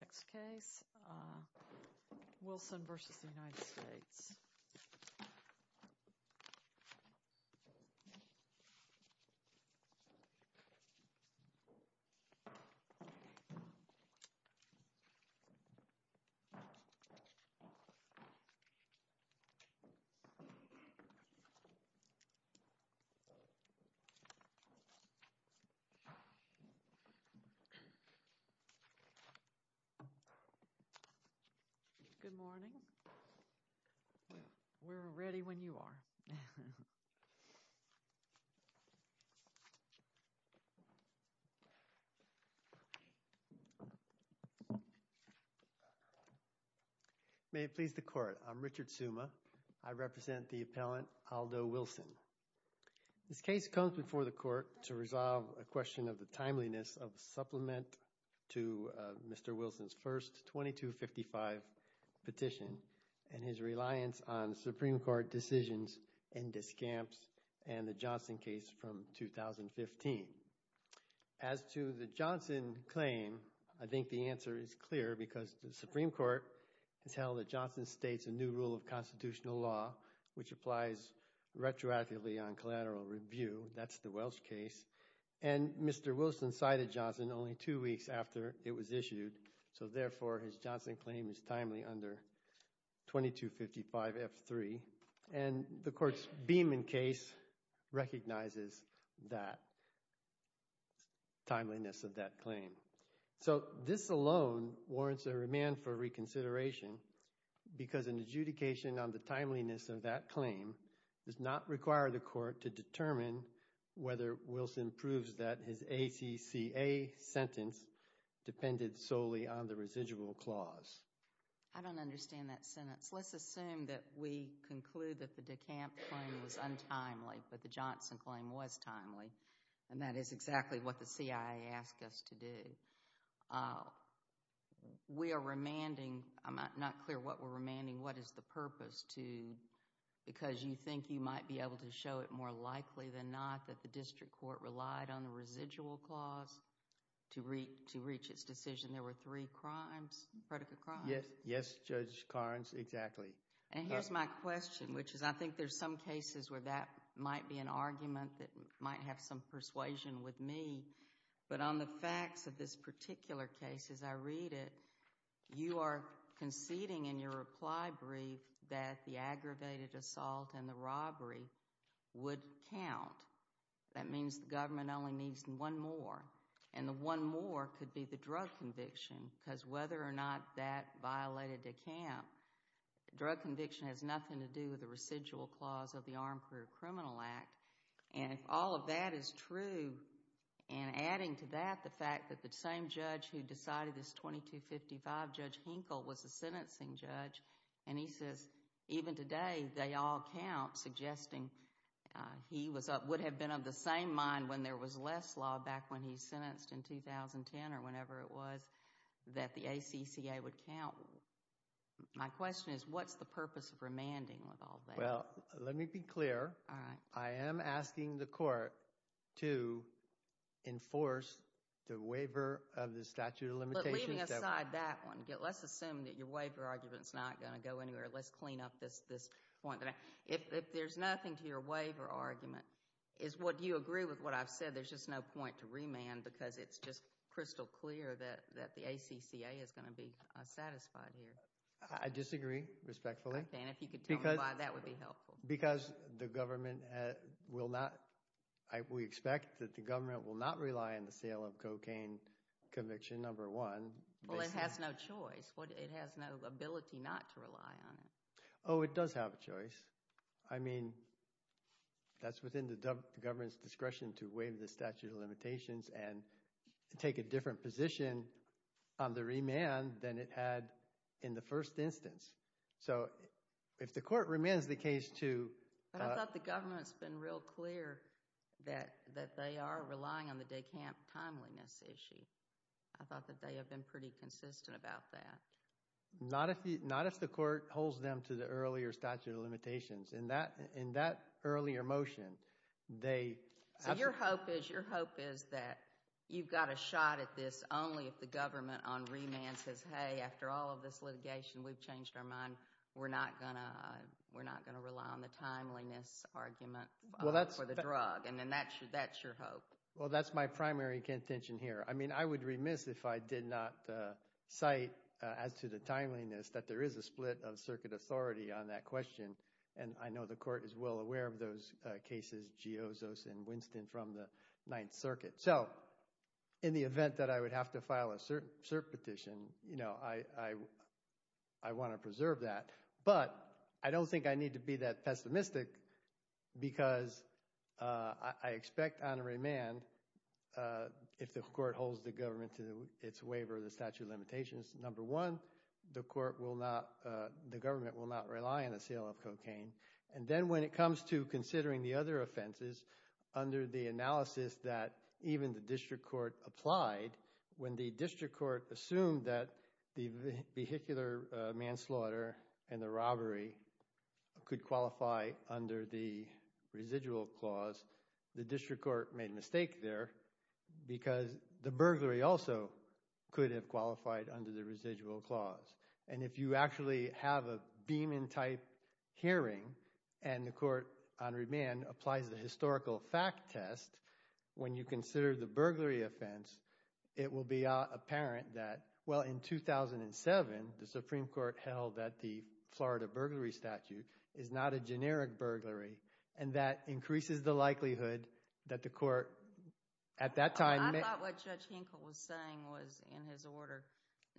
Next case, Wilson v. United States. Good morning. We're ready when you are. May it please the Court, I'm Richard Suma. I represent the appellant Aldo Wilson. This case comes before the Court to resolve a question of the timeliness of a supplement to Mr. Wilson's first 2255 petition and his reliance on Supreme Court decisions in Descamps and the Johnson case from 2015. As to the Johnson claim, I think the answer is clear because the Supreme Court has held that Johnson states a new rule of constitutional law which applies retroactively on collateral review. That's the Welsh case. And Mr. Wilson cited Johnson only two weeks after it was issued. So, therefore, his Johnson claim is timely under 2255F3. And the Court's Beamon case recognizes that timeliness of that claim. So, this alone warrants a remand for reconsideration because an adjudication on the timeliness of that claim does not require the Court to determine whether Wilson proves that his ACCA sentence depended solely on the residual clause. I don't understand that sentence. Let's assume that we conclude that the Descamps claim was untimely, but the Johnson claim was timely. And that is exactly what the CIA asked us to do. We are remanding. I'm not clear what we're remanding. What is the purpose? Because you think you might be able to show it more likely than not that the district court relied on the residual clause to reach its decision. There were three crimes, predicate crimes. Yes, Judge Carnes, exactly. And here's my question, which is I think there's some cases where that might be an argument that might have some persuasion with me. But on the facts of this particular case, as I read it, you are conceding in your reply brief that the aggravated assault and the robbery would count. That means the government only needs one more. And the one more could be the drug conviction, because whether or not that violated Descamp, drug conviction has nothing to do with the residual clause of the Armed Career Criminal Act. And if all of that is true, and adding to that the fact that the same judge who decided this 2255, Judge Hinkle, was the sentencing judge, and he says even today they all count, suggesting he would have been of the same mind when there was less law back when he sentenced in 2010 or whenever it was, that the ACCA would count. My question is what's the purpose of remanding with all that? Well, let me be clear. I am asking the court to enforce the waiver of the statute of limitations. Leaving aside that one, let's assume that your waiver argument is not going to go anywhere. Let's clean up this point. If there's nothing to your waiver argument, do you agree with what I've said? There's just no point to remand because it's just crystal clear that the ACCA is going to be satisfied here. I disagree, respectfully. Okay, and if you could tell me why, that would be helpful. Because the government will not – we expect that the government will not rely on the sale of cocaine conviction number one. Well, it has no choice. It has no ability not to rely on it. Oh, it does have a choice. I mean that's within the government's discretion to waive the statute of limitations and take a different position on the remand than it had in the first instance. So if the court remands the case to – But I thought the government's been real clear that they are relying on the day camp timeliness issue. I thought that they have been pretty consistent about that. Not if the court holds them to the earlier statute of limitations. In that earlier motion, they – Your hope is that you've got a shot at this only if the government on remand says, hey, after all of this litigation, we've changed our mind. We're not going to rely on the timeliness argument for the drug. And then that's your hope. Well, that's my primary contention here. I mean I would remiss if I did not cite, as to the timeliness, that there is a split of circuit authority on that question. And I know the court is well aware of those cases, Giozos and Winston, from the Ninth Circuit. So in the event that I would have to file a cert petition, I want to preserve that. But I don't think I need to be that pessimistic because I expect on remand, if the court holds the government to its waiver of the statute of limitations, number one, the court will not – the government will not rely on the sale of cocaine. And then when it comes to considering the other offenses under the analysis that even the district court applied, when the district court assumed that the vehicular manslaughter and the robbery could qualify under the residual clause, the district court made a mistake there because the burglary also could have qualified under the residual clause. And if you actually have a Beeman-type hearing and the court on remand applies the historical fact test, when you consider the burglary offense, it will be apparent that, well, in 2007 the Supreme Court held that the Florida burglary statute is not a generic burglary and that increases the likelihood that the court at that time – I thought what Judge Hinkle was saying was in his order,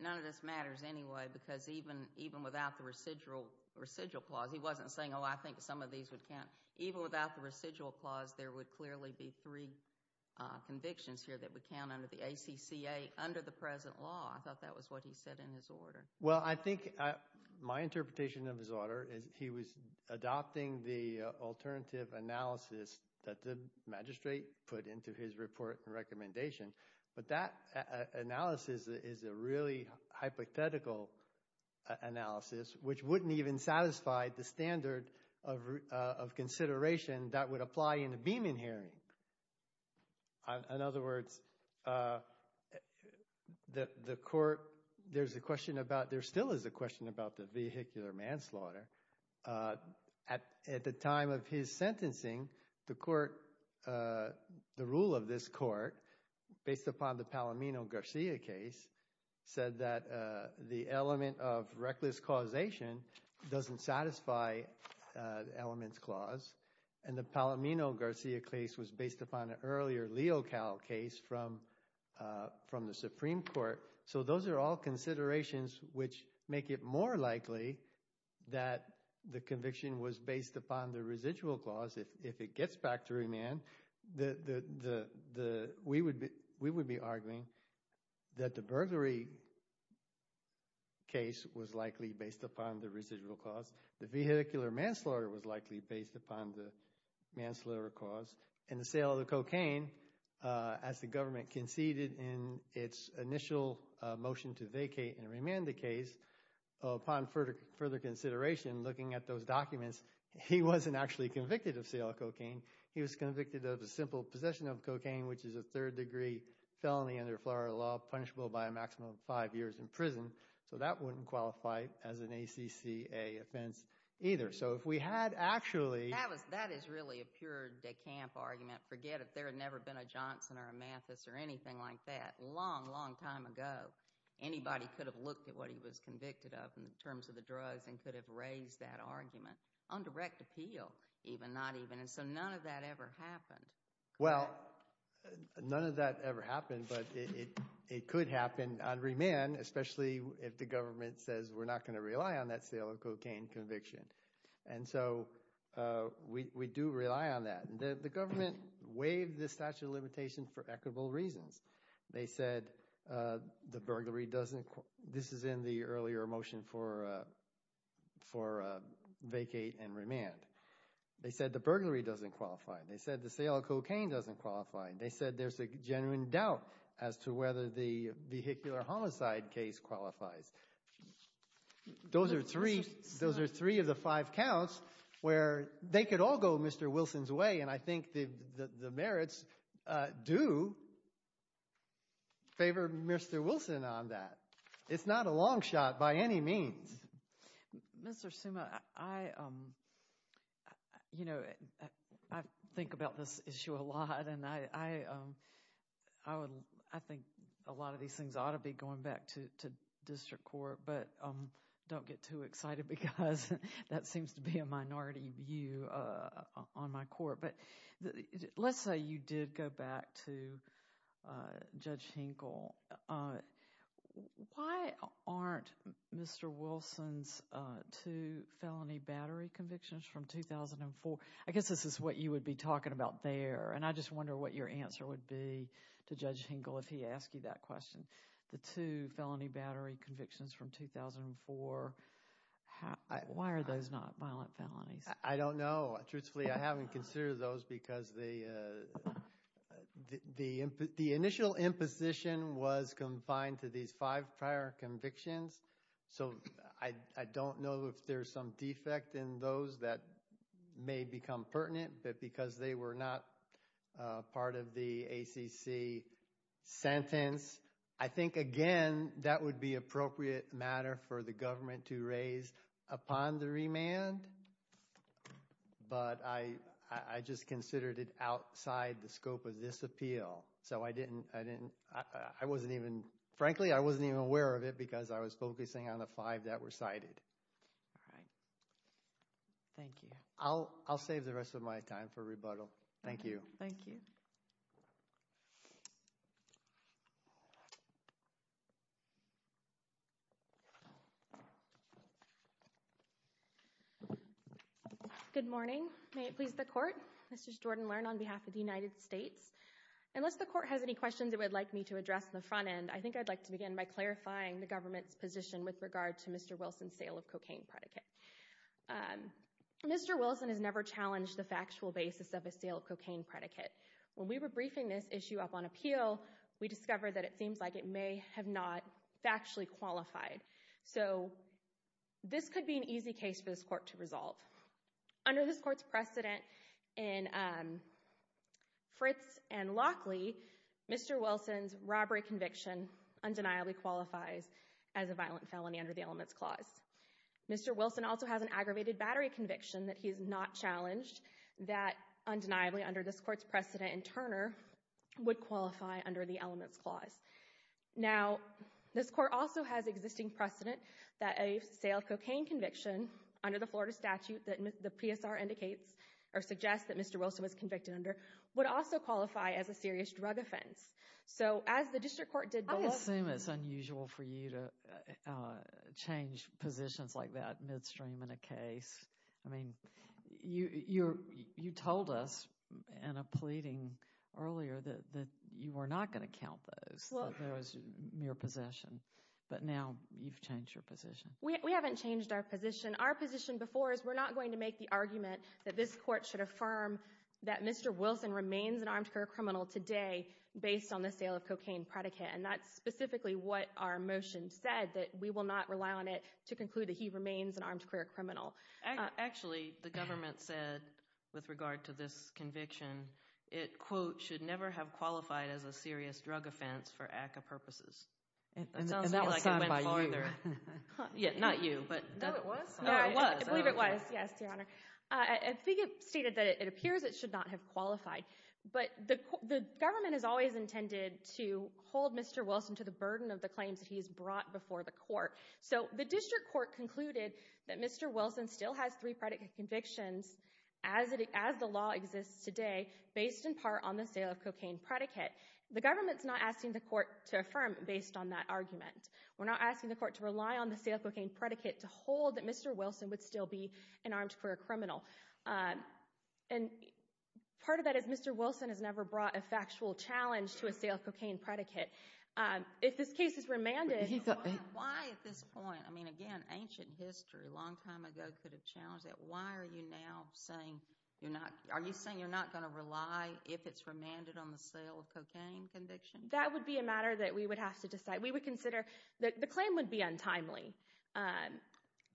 none of this matters anyway because even without the residual clause, he wasn't saying, oh, I think some of these would count. Even without the residual clause, there would clearly be three convictions here that would count under the ACCA under the present law. I thought that was what he said in his order. Well, I think my interpretation of his order is he was adopting the alternative analysis that the magistrate put into his report and recommendation. But that analysis is a really hypothetical analysis which wouldn't even satisfy the standard of consideration that would apply in a Beeman hearing. In other words, the court – there's a question about – there still is a question about the vehicular manslaughter. At the time of his sentencing, the court – the rule of this court, based upon the Palomino-Garcia case, said that the element of reckless causation doesn't satisfy the elements clause. And the Palomino-Garcia case was based upon an earlier Leocal case from the Supreme Court. So those are all considerations which make it more likely that the conviction was based upon the residual clause. If it gets back to Remand, we would be arguing that the burglary case was likely based upon the residual clause. The vehicular manslaughter was likely based upon the manslaughter clause. In the sale of the cocaine, as the government conceded in its initial motion to vacate and remand the case, upon further consideration, looking at those documents, he wasn't actually convicted of sale of cocaine. He was convicted of the simple possession of cocaine, which is a third-degree felony under Florida law punishable by a maximum of five years in prison. So that wouldn't qualify as an ACCA offense either. So if we had actually – That is really a pure de camp argument. Forget it. There had never been a Johnson or a Mathis or anything like that a long, long time ago. Anybody could have looked at what he was convicted of in terms of the drugs and could have raised that argument on direct appeal, even. Not even. And so none of that ever happened. Well, none of that ever happened, but it could happen on remand, especially if the government says we're not going to rely on that sale of cocaine conviction. And so we do rely on that. The government waived the statute of limitations for equitable reasons. They said the burglary doesn't – this is in the earlier motion for vacate and remand. They said the burglary doesn't qualify. They said the sale of cocaine doesn't qualify. They said there's a genuine doubt as to whether the vehicular homicide case qualifies. Those are three of the five counts where they could all go Mr. Wilson's way, and I think the merits do favor Mr. Wilson on that. It's not a long shot by any means. Mr. Summa, I think about this issue a lot, and I think a lot of these things ought to be going back to district court, but don't get too excited because that seems to be a minority view on my court. Let's say you did go back to Judge Hinkle. Why aren't Mr. Wilson's two felony battery convictions from 2004 – I guess this is what you would be talking about there, and I just wonder what your answer would be to Judge Hinkle if he asked you that question. The two felony battery convictions from 2004, why are those not violent felonies? I don't know. Truthfully, I haven't considered those because the initial imposition was confined to these five prior convictions, so I don't know if there's some defect in those that may become pertinent, but because they were not part of the ACC sentence, I think, again, that would be appropriate matter for the government to raise upon the remand, but I just considered it outside the scope of this appeal. So I didn't – frankly, I wasn't even aware of it because I was focusing on the five that were cited. All right. Thank you. I'll save the rest of my time for rebuttal. Thank you. Thank you. Good morning. May it please the Court? This is Jordan Learn on behalf of the United States. Unless the Court has any questions it would like me to address on the front end, I think I'd like to begin by clarifying the government's position with regard to Mr. Wilson's sale of cocaine predicate. Mr. Wilson has never challenged the factual basis of a sale of cocaine predicate. When we were briefing this issue up on appeal, we discovered that it seems like it may have not factually qualified. So this could be an easy case for this Court to resolve. Under this Court's precedent in Fritz and Lockley, Mr. Wilson's robbery conviction undeniably qualifies as a violent felony under the Elements Clause. Mr. Wilson also has an aggravated battery conviction that he has not challenged, that undeniably under this Court's precedent in Turner would qualify under the Elements Clause. Now, this Court also has existing precedent that a sale of cocaine conviction under the Florida statute that the PSR indicates or suggests that Mr. Wilson was convicted under would also qualify as a serious drug offense. I assume it's unusual for you to change positions like that midstream in a case. I mean, you told us in a pleading earlier that you were not going to count those as mere possession. But now you've changed your position. We haven't changed our position. Our position before is we're not going to make the argument that this Court should affirm that Mr. Wilson remains an armed career criminal today based on the sale of cocaine predicate. And that's specifically what our motion said, that we will not rely on it to conclude that he remains an armed career criminal. Actually, the government said with regard to this conviction it, quote, should never have qualified as a serious drug offense for ACCA purposes. And that was said by you. Yeah, not you. No, it was. I believe it was, yes, Your Honor. I think it stated that it appears it should not have qualified. But the government has always intended to hold Mr. Wilson to the burden of the claims that he has brought before the court. So the district court concluded that Mr. Wilson still has three predicate convictions as the law exists today based in part on the sale of cocaine predicate. The government's not asking the court to affirm based on that argument. We're not asking the court to rely on the sale of cocaine predicate to hold that Mr. Wilson would still be an armed career criminal. And part of that is Mr. Wilson has never brought a factual challenge to a sale of cocaine predicate. If this case is remanded. Why at this point? I mean, again, ancient history a long time ago could have challenged that. Why are you now saying you're not are you saying you're not going to rely if it's remanded on the sale of cocaine conviction? That would be a matter that we would have to decide. We would consider that the claim would be untimely.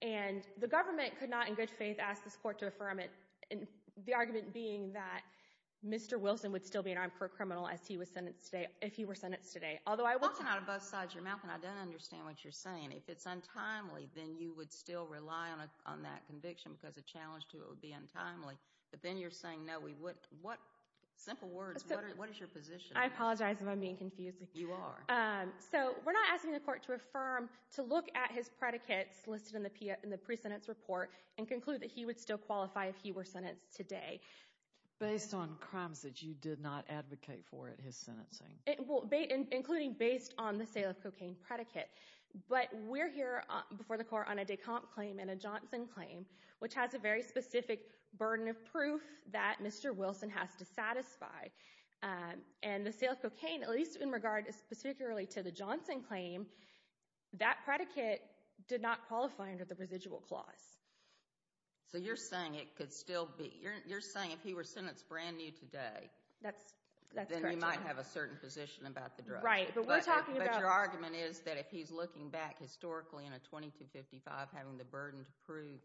And the government could not, in good faith, ask this court to affirm it. And the argument being that Mr. Wilson would still be an armed career criminal as he was sentenced today. If he were sentenced today. Although I walk out of both sides your mouth and I don't understand what you're saying. If it's untimely, then you would still rely on that conviction because a challenge to it would be untimely. But then you're saying, no, we would. What simple words. What is your position? I apologize if I'm being confused. You are. So we're not asking the court to affirm, to look at his predicates listed in the pre-sentence report, and conclude that he would still qualify if he were sentenced today. Based on crimes that you did not advocate for at his sentencing. Including based on the sale of cocaine predicate. But we're here before the court on a Descamps claim and a Johnson claim, which has a very specific burden of proof that Mr. Wilson has to satisfy. And the sale of cocaine, at least in regard specifically to the Johnson claim, that predicate did not qualify under the residual clause. So you're saying it could still be. You're saying if he were sentenced brand new today, then he might have a certain position about the drug. Right, but we're talking about. But your argument is that if he's looking back historically in a 2255, having the burden to prove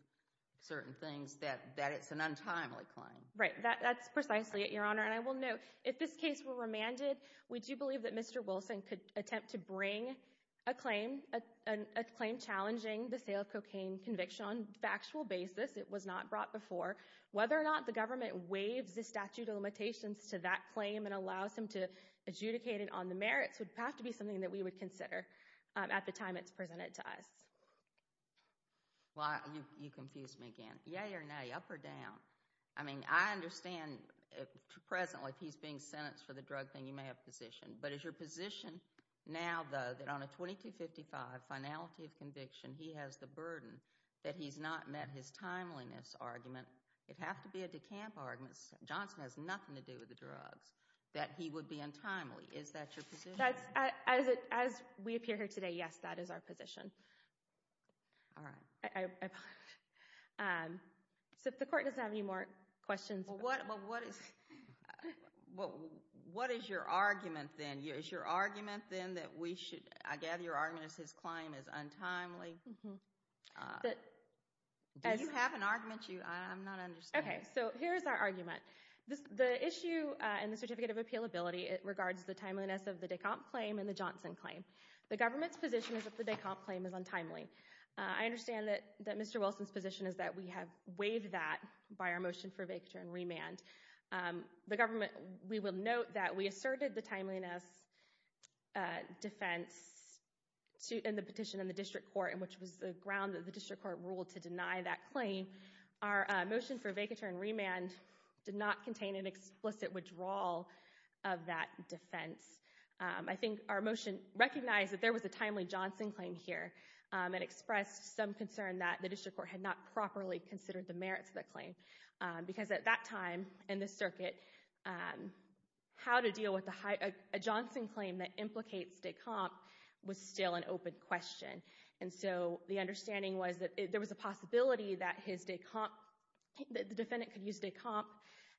certain things, that it's an untimely claim. Right, that's precisely it, Your Honor. And I will note, if this case were remanded, we do believe that Mr. Wilson could attempt to bring a claim, a claim challenging the sale of cocaine conviction on a factual basis. It was not brought before. Whether or not the government waives the statute of limitations to that claim and allows him to adjudicate it on the merits would have to be something that we would consider at the time it's presented to us. Well, you confused me again. Yay or nay, up or down? I mean, I understand presently if he's being sentenced for the drug thing, you may have a position. But is your position now, though, that on a 2255 finality of conviction, he has the burden that he's not met his timeliness argument? It'd have to be a decamp argument. Johnson has nothing to do with the drugs that he would be untimely. Is that your position? As we appear here today, yes, that is our position. All right. So if the court doesn't have any more questions. Well, what is your argument then? Is your argument then that we should, I gather your argument is his claim is untimely? Do you have an argument? I'm not understanding. Okay, so here is our argument. The issue in the certificate of appealability regards the timeliness of the decamp claim and the Johnson claim. The government's position is that the decamp claim is untimely. I understand that Mr. Wilson's position is that we have waived that by our motion for vacatur and remand. We will note that we asserted the timeliness defense in the petition in the district court, which was the ground that the district court ruled to deny that claim. Our motion for vacatur and remand did not contain an explicit withdrawal of that defense. I think our motion recognized that there was a timely Johnson claim here. It expressed some concern that the district court had not properly considered the merits of that claim. Because at that time in the circuit, how to deal with a Johnson claim that implicates decamp was still an open question. And so the understanding was that there was a possibility that the defendant could use decamp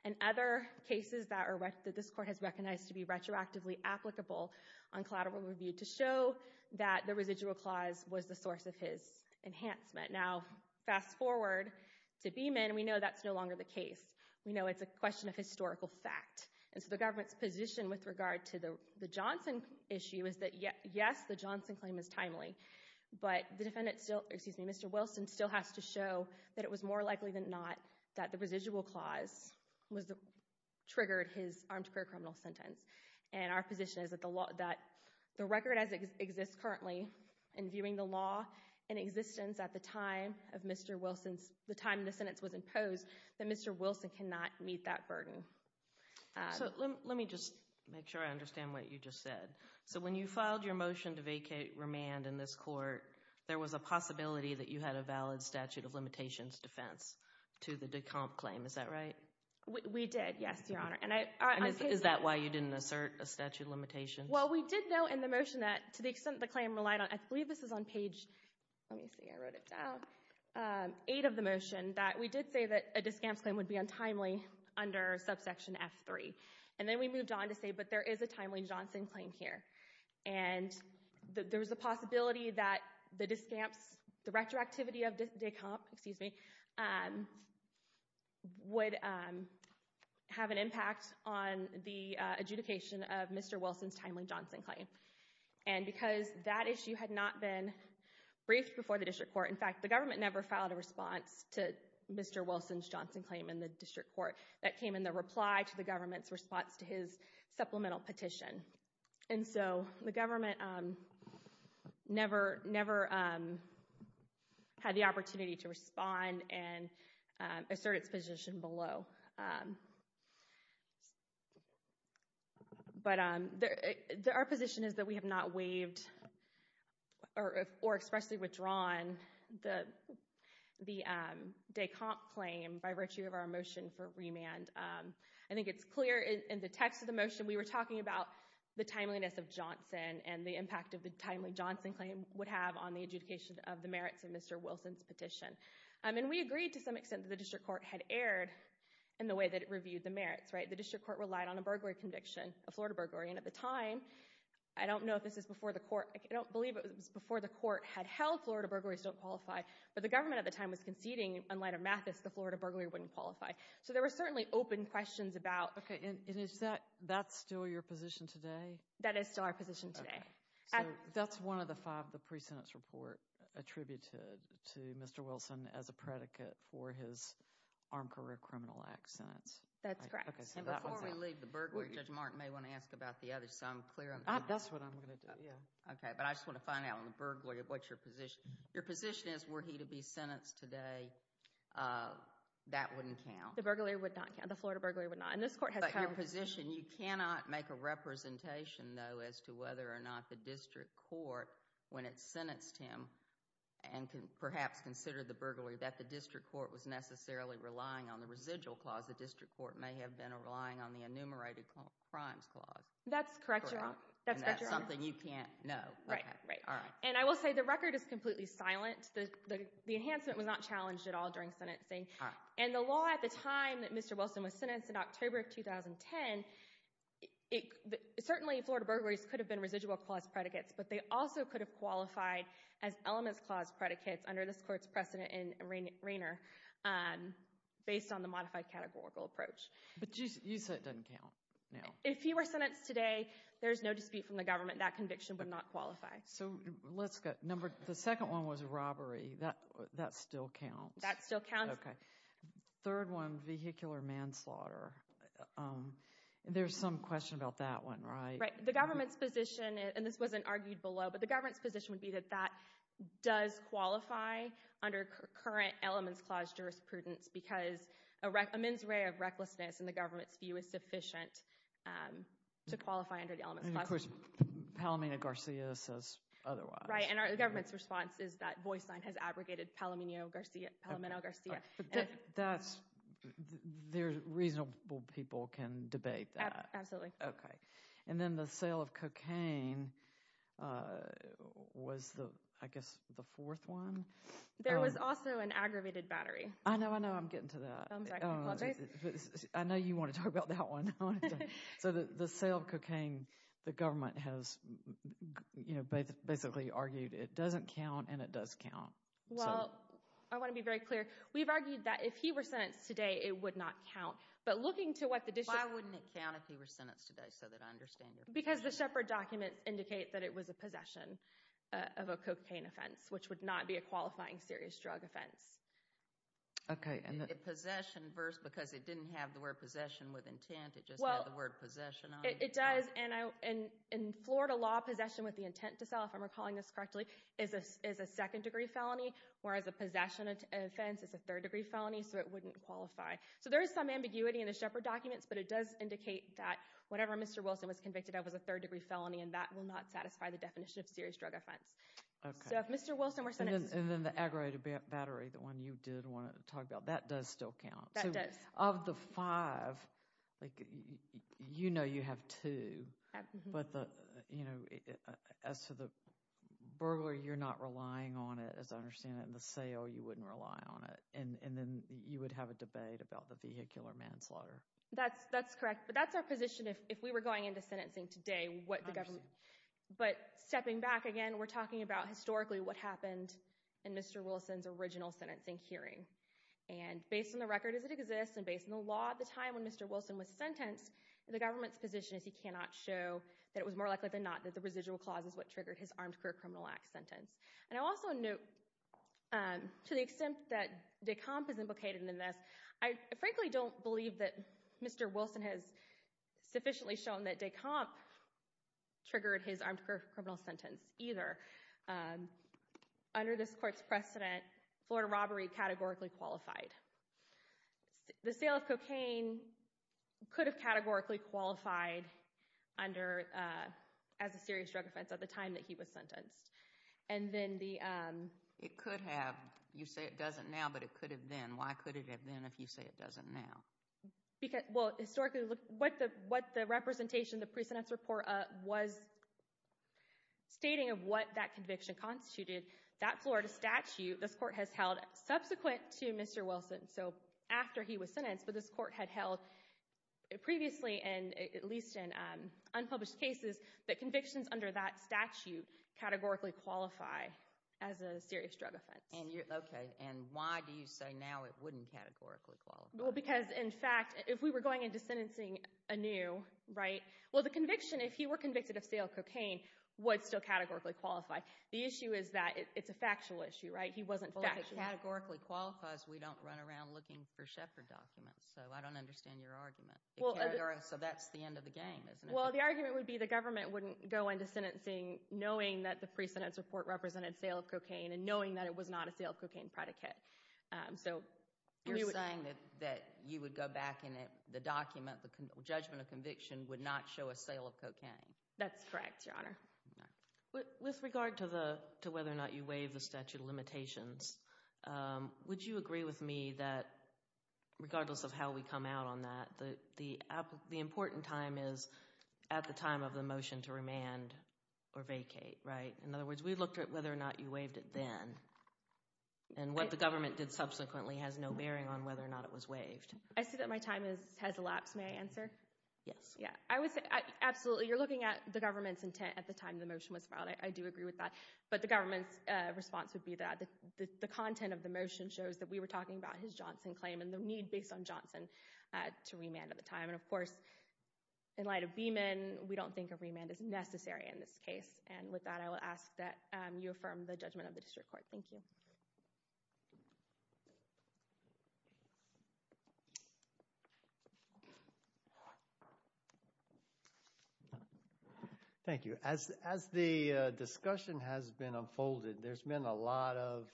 and other cases that this court has recognized to be retroactively applicable on collateral review to show that the residual clause was the source of his enhancement. Now, fast forward to Beeman, we know that's no longer the case. We know it's a question of historical fact. And so the government's position with regard to the Johnson issue is that yes, the Johnson claim is timely. But the defendant still, excuse me, Mr. Wilson still has to show that it was more likely than not that the residual clause triggered his armed career criminal sentence. And our position is that the record as it exists currently in viewing the law in existence at the time of Mr. Wilson's, the time the sentence was imposed, that Mr. Wilson cannot meet that burden. So let me just make sure I understand what you just said. So when you filed your motion to vacate remand in this court, there was a possibility that you had a valid statute of limitations defense to the decamp claim. We did, yes, Your Honor. Is that why you didn't assert a statute of limitations? Well, we did know in the motion that to the extent the claim relied on, I believe this is on page, let me see, I wrote it down, eight of the motion that we did say that a discamps claim would be untimely under subsection F3. And then we moved on to say, but there is a timely Johnson claim here. And there was a possibility that the discamps, the retroactivity of decamp, excuse me, would have an impact on the adjudication of Mr. Wilson's timely Johnson claim. And because that issue had not been briefed before the district court, in fact, the government never filed a response to Mr. Wilson's Johnson claim in the district court that came in the reply to the government's response to his supplemental petition. And so the government never had the opportunity to respond and assert its position below. But our position is that we have not waived or expressly withdrawn the decamp claim by virtue of our motion for remand. And I think it's clear in the text of the motion we were talking about the timeliness of Johnson and the impact of the timely Johnson claim would have on the adjudication of the merits of Mr. Wilson's petition. And we agreed to some extent that the district court had erred in the way that it reviewed the merits. The district court relied on a burglary conviction, a Florida burglary. And at the time, I don't know if this is before the court, I don't believe it was before the court had held Florida burglaries don't qualify, but the government at the time was conceding, in light of Mathis, the Florida burglary wouldn't qualify. So there were certainly open questions about... Okay, and is that still your position today? That is still our position today. So that's one of the five, the pre-sentence report attributed to Mr. Wilson as a predicate for his Armed Career Criminal Act sentence. That's correct. And before we leave the burglary, Judge Martin may want to ask about the others, so I'm clear on that. That's what I'm going to do, yeah. Okay, but I just want to find out on the burglary, what's your position? Your position is, were he to be sentenced today, that wouldn't count. The burglary would not count. The Florida burglary would not. But your position, you cannot make a representation, though, as to whether or not the district court, when it sentenced him and perhaps considered the burglary, that the district court was necessarily relying on the residual clause. The district court may have been relying on the enumerated crimes clause. That's correct, Your Honor. And that's something you can't know. Right, right. And I will say the record is completely silent. The enhancement was not challenged at all during sentencing. And the law at the time that Mr. Wilson was sentenced in October of 2010, certainly Florida burglaries could have been residual clause predicates, but they also could have qualified as elements clause predicates under this court's precedent in Rainer based on the modified categorical approach. But you said it doesn't count now. If he were sentenced today, there's no dispute from the government that conviction would not qualify. So let's go. The second one was robbery. That still counts. That still counts. Okay. Third one, vehicular manslaughter. There's some question about that one, right? Right. The government's position, and this wasn't argued below, but the government's position would be that that does qualify under current elements clause jurisprudence because a mens rea of recklessness in the government's view is sufficient to qualify under the elements clause. Of course, Palomino-Garcia says otherwise. Right, and the government's response is that voice line has abrogated Palomino-Garcia. That's – reasonable people can debate that. Absolutely. Okay. And then the sale of cocaine was, I guess, the fourth one. There was also an aggravated battery. I know. I know. I'm getting to that. I know you want to talk about that one. So the sale of cocaine, the government has basically argued it doesn't count and it does count. Well, I want to be very clear. We've argued that if he were sentenced today, it would not count. But looking to what the district – Why wouldn't it count if he were sentenced today so that I understand your point? Because the Shepherd documents indicate that it was a possession of a cocaine offense, which would not be a qualifying serious drug offense. Okay. Possession because it didn't have the word possession with intent. It just had the word possession on it. It does, and in Florida law, possession with the intent to sell, if I'm recalling this correctly, is a second-degree felony, whereas a possession offense is a third-degree felony, so it wouldn't qualify. So there is some ambiguity in the Shepherd documents, but it does indicate that whatever Mr. Wilson was convicted of was a third-degree felony, and that will not satisfy the definition of serious drug offense. So if Mr. Wilson were sentenced – And then the aggravated battery, the one you did want to talk about, that does still count. That does. Of the five, you know you have two, but as for the burglar, you're not relying on it, as I understand it, and the sale, you wouldn't rely on it. And then you would have a debate about the vehicular manslaughter. That's correct, but that's our position if we were going into sentencing today. I understand. But stepping back again, we're talking about historically what happened in Mr. Wilson's original sentencing hearing. And based on the record as it exists and based on the law at the time when Mr. Wilson was sentenced, the government's position is he cannot show that it was more likely than not that the residual clause is what triggered his Armed Career Criminal Act sentence. And I also note, to the extent that de Camp is implicated in this, I frankly don't believe that Mr. Wilson has sufficiently shown that de Camp triggered his armed criminal sentence either. Under this court's precedent, Florida robbery categorically qualified. The sale of cocaine could have categorically qualified as a serious drug offense at the time that he was sentenced. It could have. You say it doesn't now, but it could have been. Why could it have been if you say it doesn't now? Well, historically, what the representation, the precedence report was stating of what that conviction constituted, that Florida statute, this court has held subsequent to Mr. Wilson. So after he was sentenced, but this court had held previously and at least in unpublished cases that convictions under that statute categorically qualify as a serious drug offense. Okay, and why do you say now it wouldn't categorically qualify? Well, because, in fact, if we were going into sentencing anew, right? Well, the conviction, if he were convicted of sale of cocaine, would still categorically qualify. The issue is that it's a factual issue, right? He wasn't factual. Well, if it categorically qualifies, we don't run around looking for Shepard documents. So I don't understand your argument. So that's the end of the game, isn't it? Well, the argument would be the government wouldn't go into sentencing knowing that the precedence report represented sale of cocaine and knowing that it was not a sale of cocaine predicate. You're saying that you would go back and the document, the judgment of conviction, would not show a sale of cocaine. That's correct, Your Honor. With regard to whether or not you waive the statute of limitations, would you agree with me that regardless of how we come out on that, the important time is at the time of the motion to remand or vacate, right? In other words, we looked at whether or not you waived it then, and what the government did subsequently has no bearing on whether or not it was waived. I see that my time has elapsed. May I answer? Yes. Absolutely. You're looking at the government's intent at the time the motion was filed. I do agree with that, but the government's response would be that the content of the motion shows that we were talking about his Johnson claim and the need based on Johnson to remand at the time. Of course, in light of Beeman, we don't think a remand is necessary in this case. With that, I will ask that you affirm the judgment of the district court. Thank you. Thank you. As the discussion has been unfolded, there's been a lot of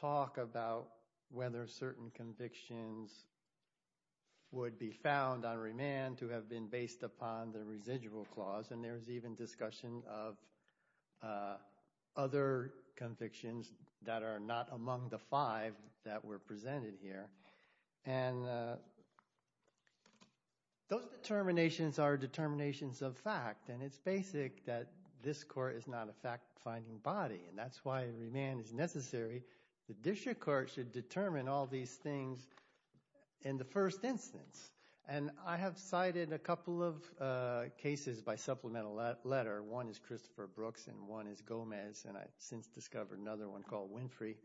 talk about whether certain convictions would be found on remand to have been based upon the residual clause, and there's even discussion of other convictions that are not among the five that were presented here. And those determinations are determinations of fact, and it's basic that this court is not a fact-finding body, and that's why remand is necessary. The district court should determine all these things in the first instance. And I have cited a couple of cases by supplemental letter. One is Christopher Brooks and one is Gomez, and I've since discovered another one called Winfrey.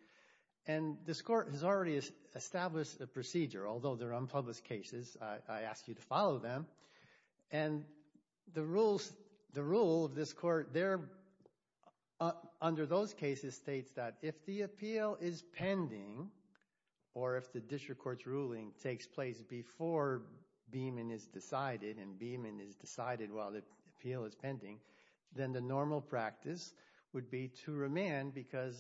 And this court has already established a procedure. Although they're unpublished cases, I ask you to follow them. And the rule of this court, under those cases, states that if the appeal is pending or if the district court's ruling takes place before Beeman is decided and Beeman is decided while the appeal is pending, then the normal practice would be to remand because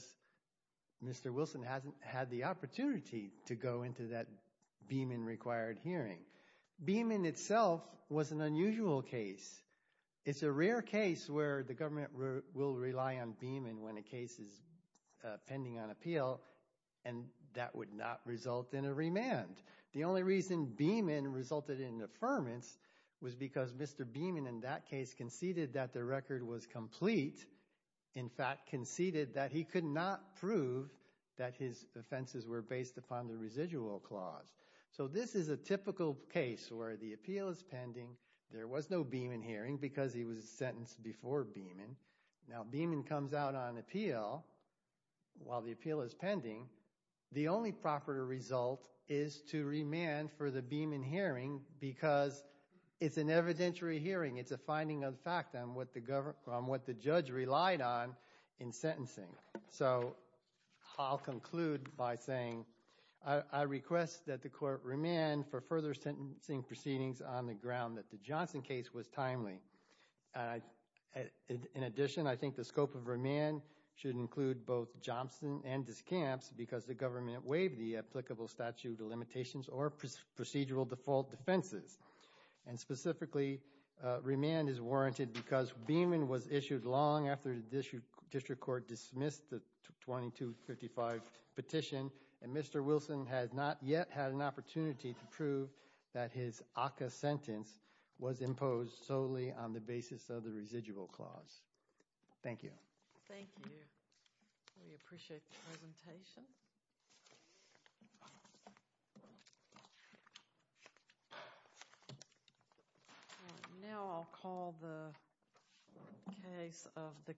Mr. Wilson hasn't had the opportunity to go into that Beeman-required hearing. Beeman itself was an unusual case. It's a rare case where the government will rely on Beeman when a case is pending on appeal, and that would not result in a remand. The only reason Beeman resulted in affirmance was because Mr. Beeman, in that case, conceded that the record was complete. In fact, conceded that he could not prove that his offenses were based upon the residual clause. So this is a typical case where the appeal is pending. There was no Beeman hearing because he was sentenced before Beeman. Now, Beeman comes out on appeal while the appeal is pending. The only proper result is to remand for the Beeman hearing because it's an evidentiary hearing. It's a finding of fact on what the judge relied on in sentencing. So I'll conclude by saying I request that the court remand for further sentencing proceedings on the ground that the Johnson case was timely. In addition, I think the scope of remand should include both Johnson and discamps because the government waived the applicable statute of limitations or procedural default defenses. And specifically, remand is warranted because Beeman was issued long after the district court dismissed the 2255 petition. And Mr. Wilson has not yet had an opportunity to prove that his ACCA sentence was imposed solely on the basis of the residual clause. Thank you. Thank you. We appreciate the presentation. All right. Now I'll call the case of the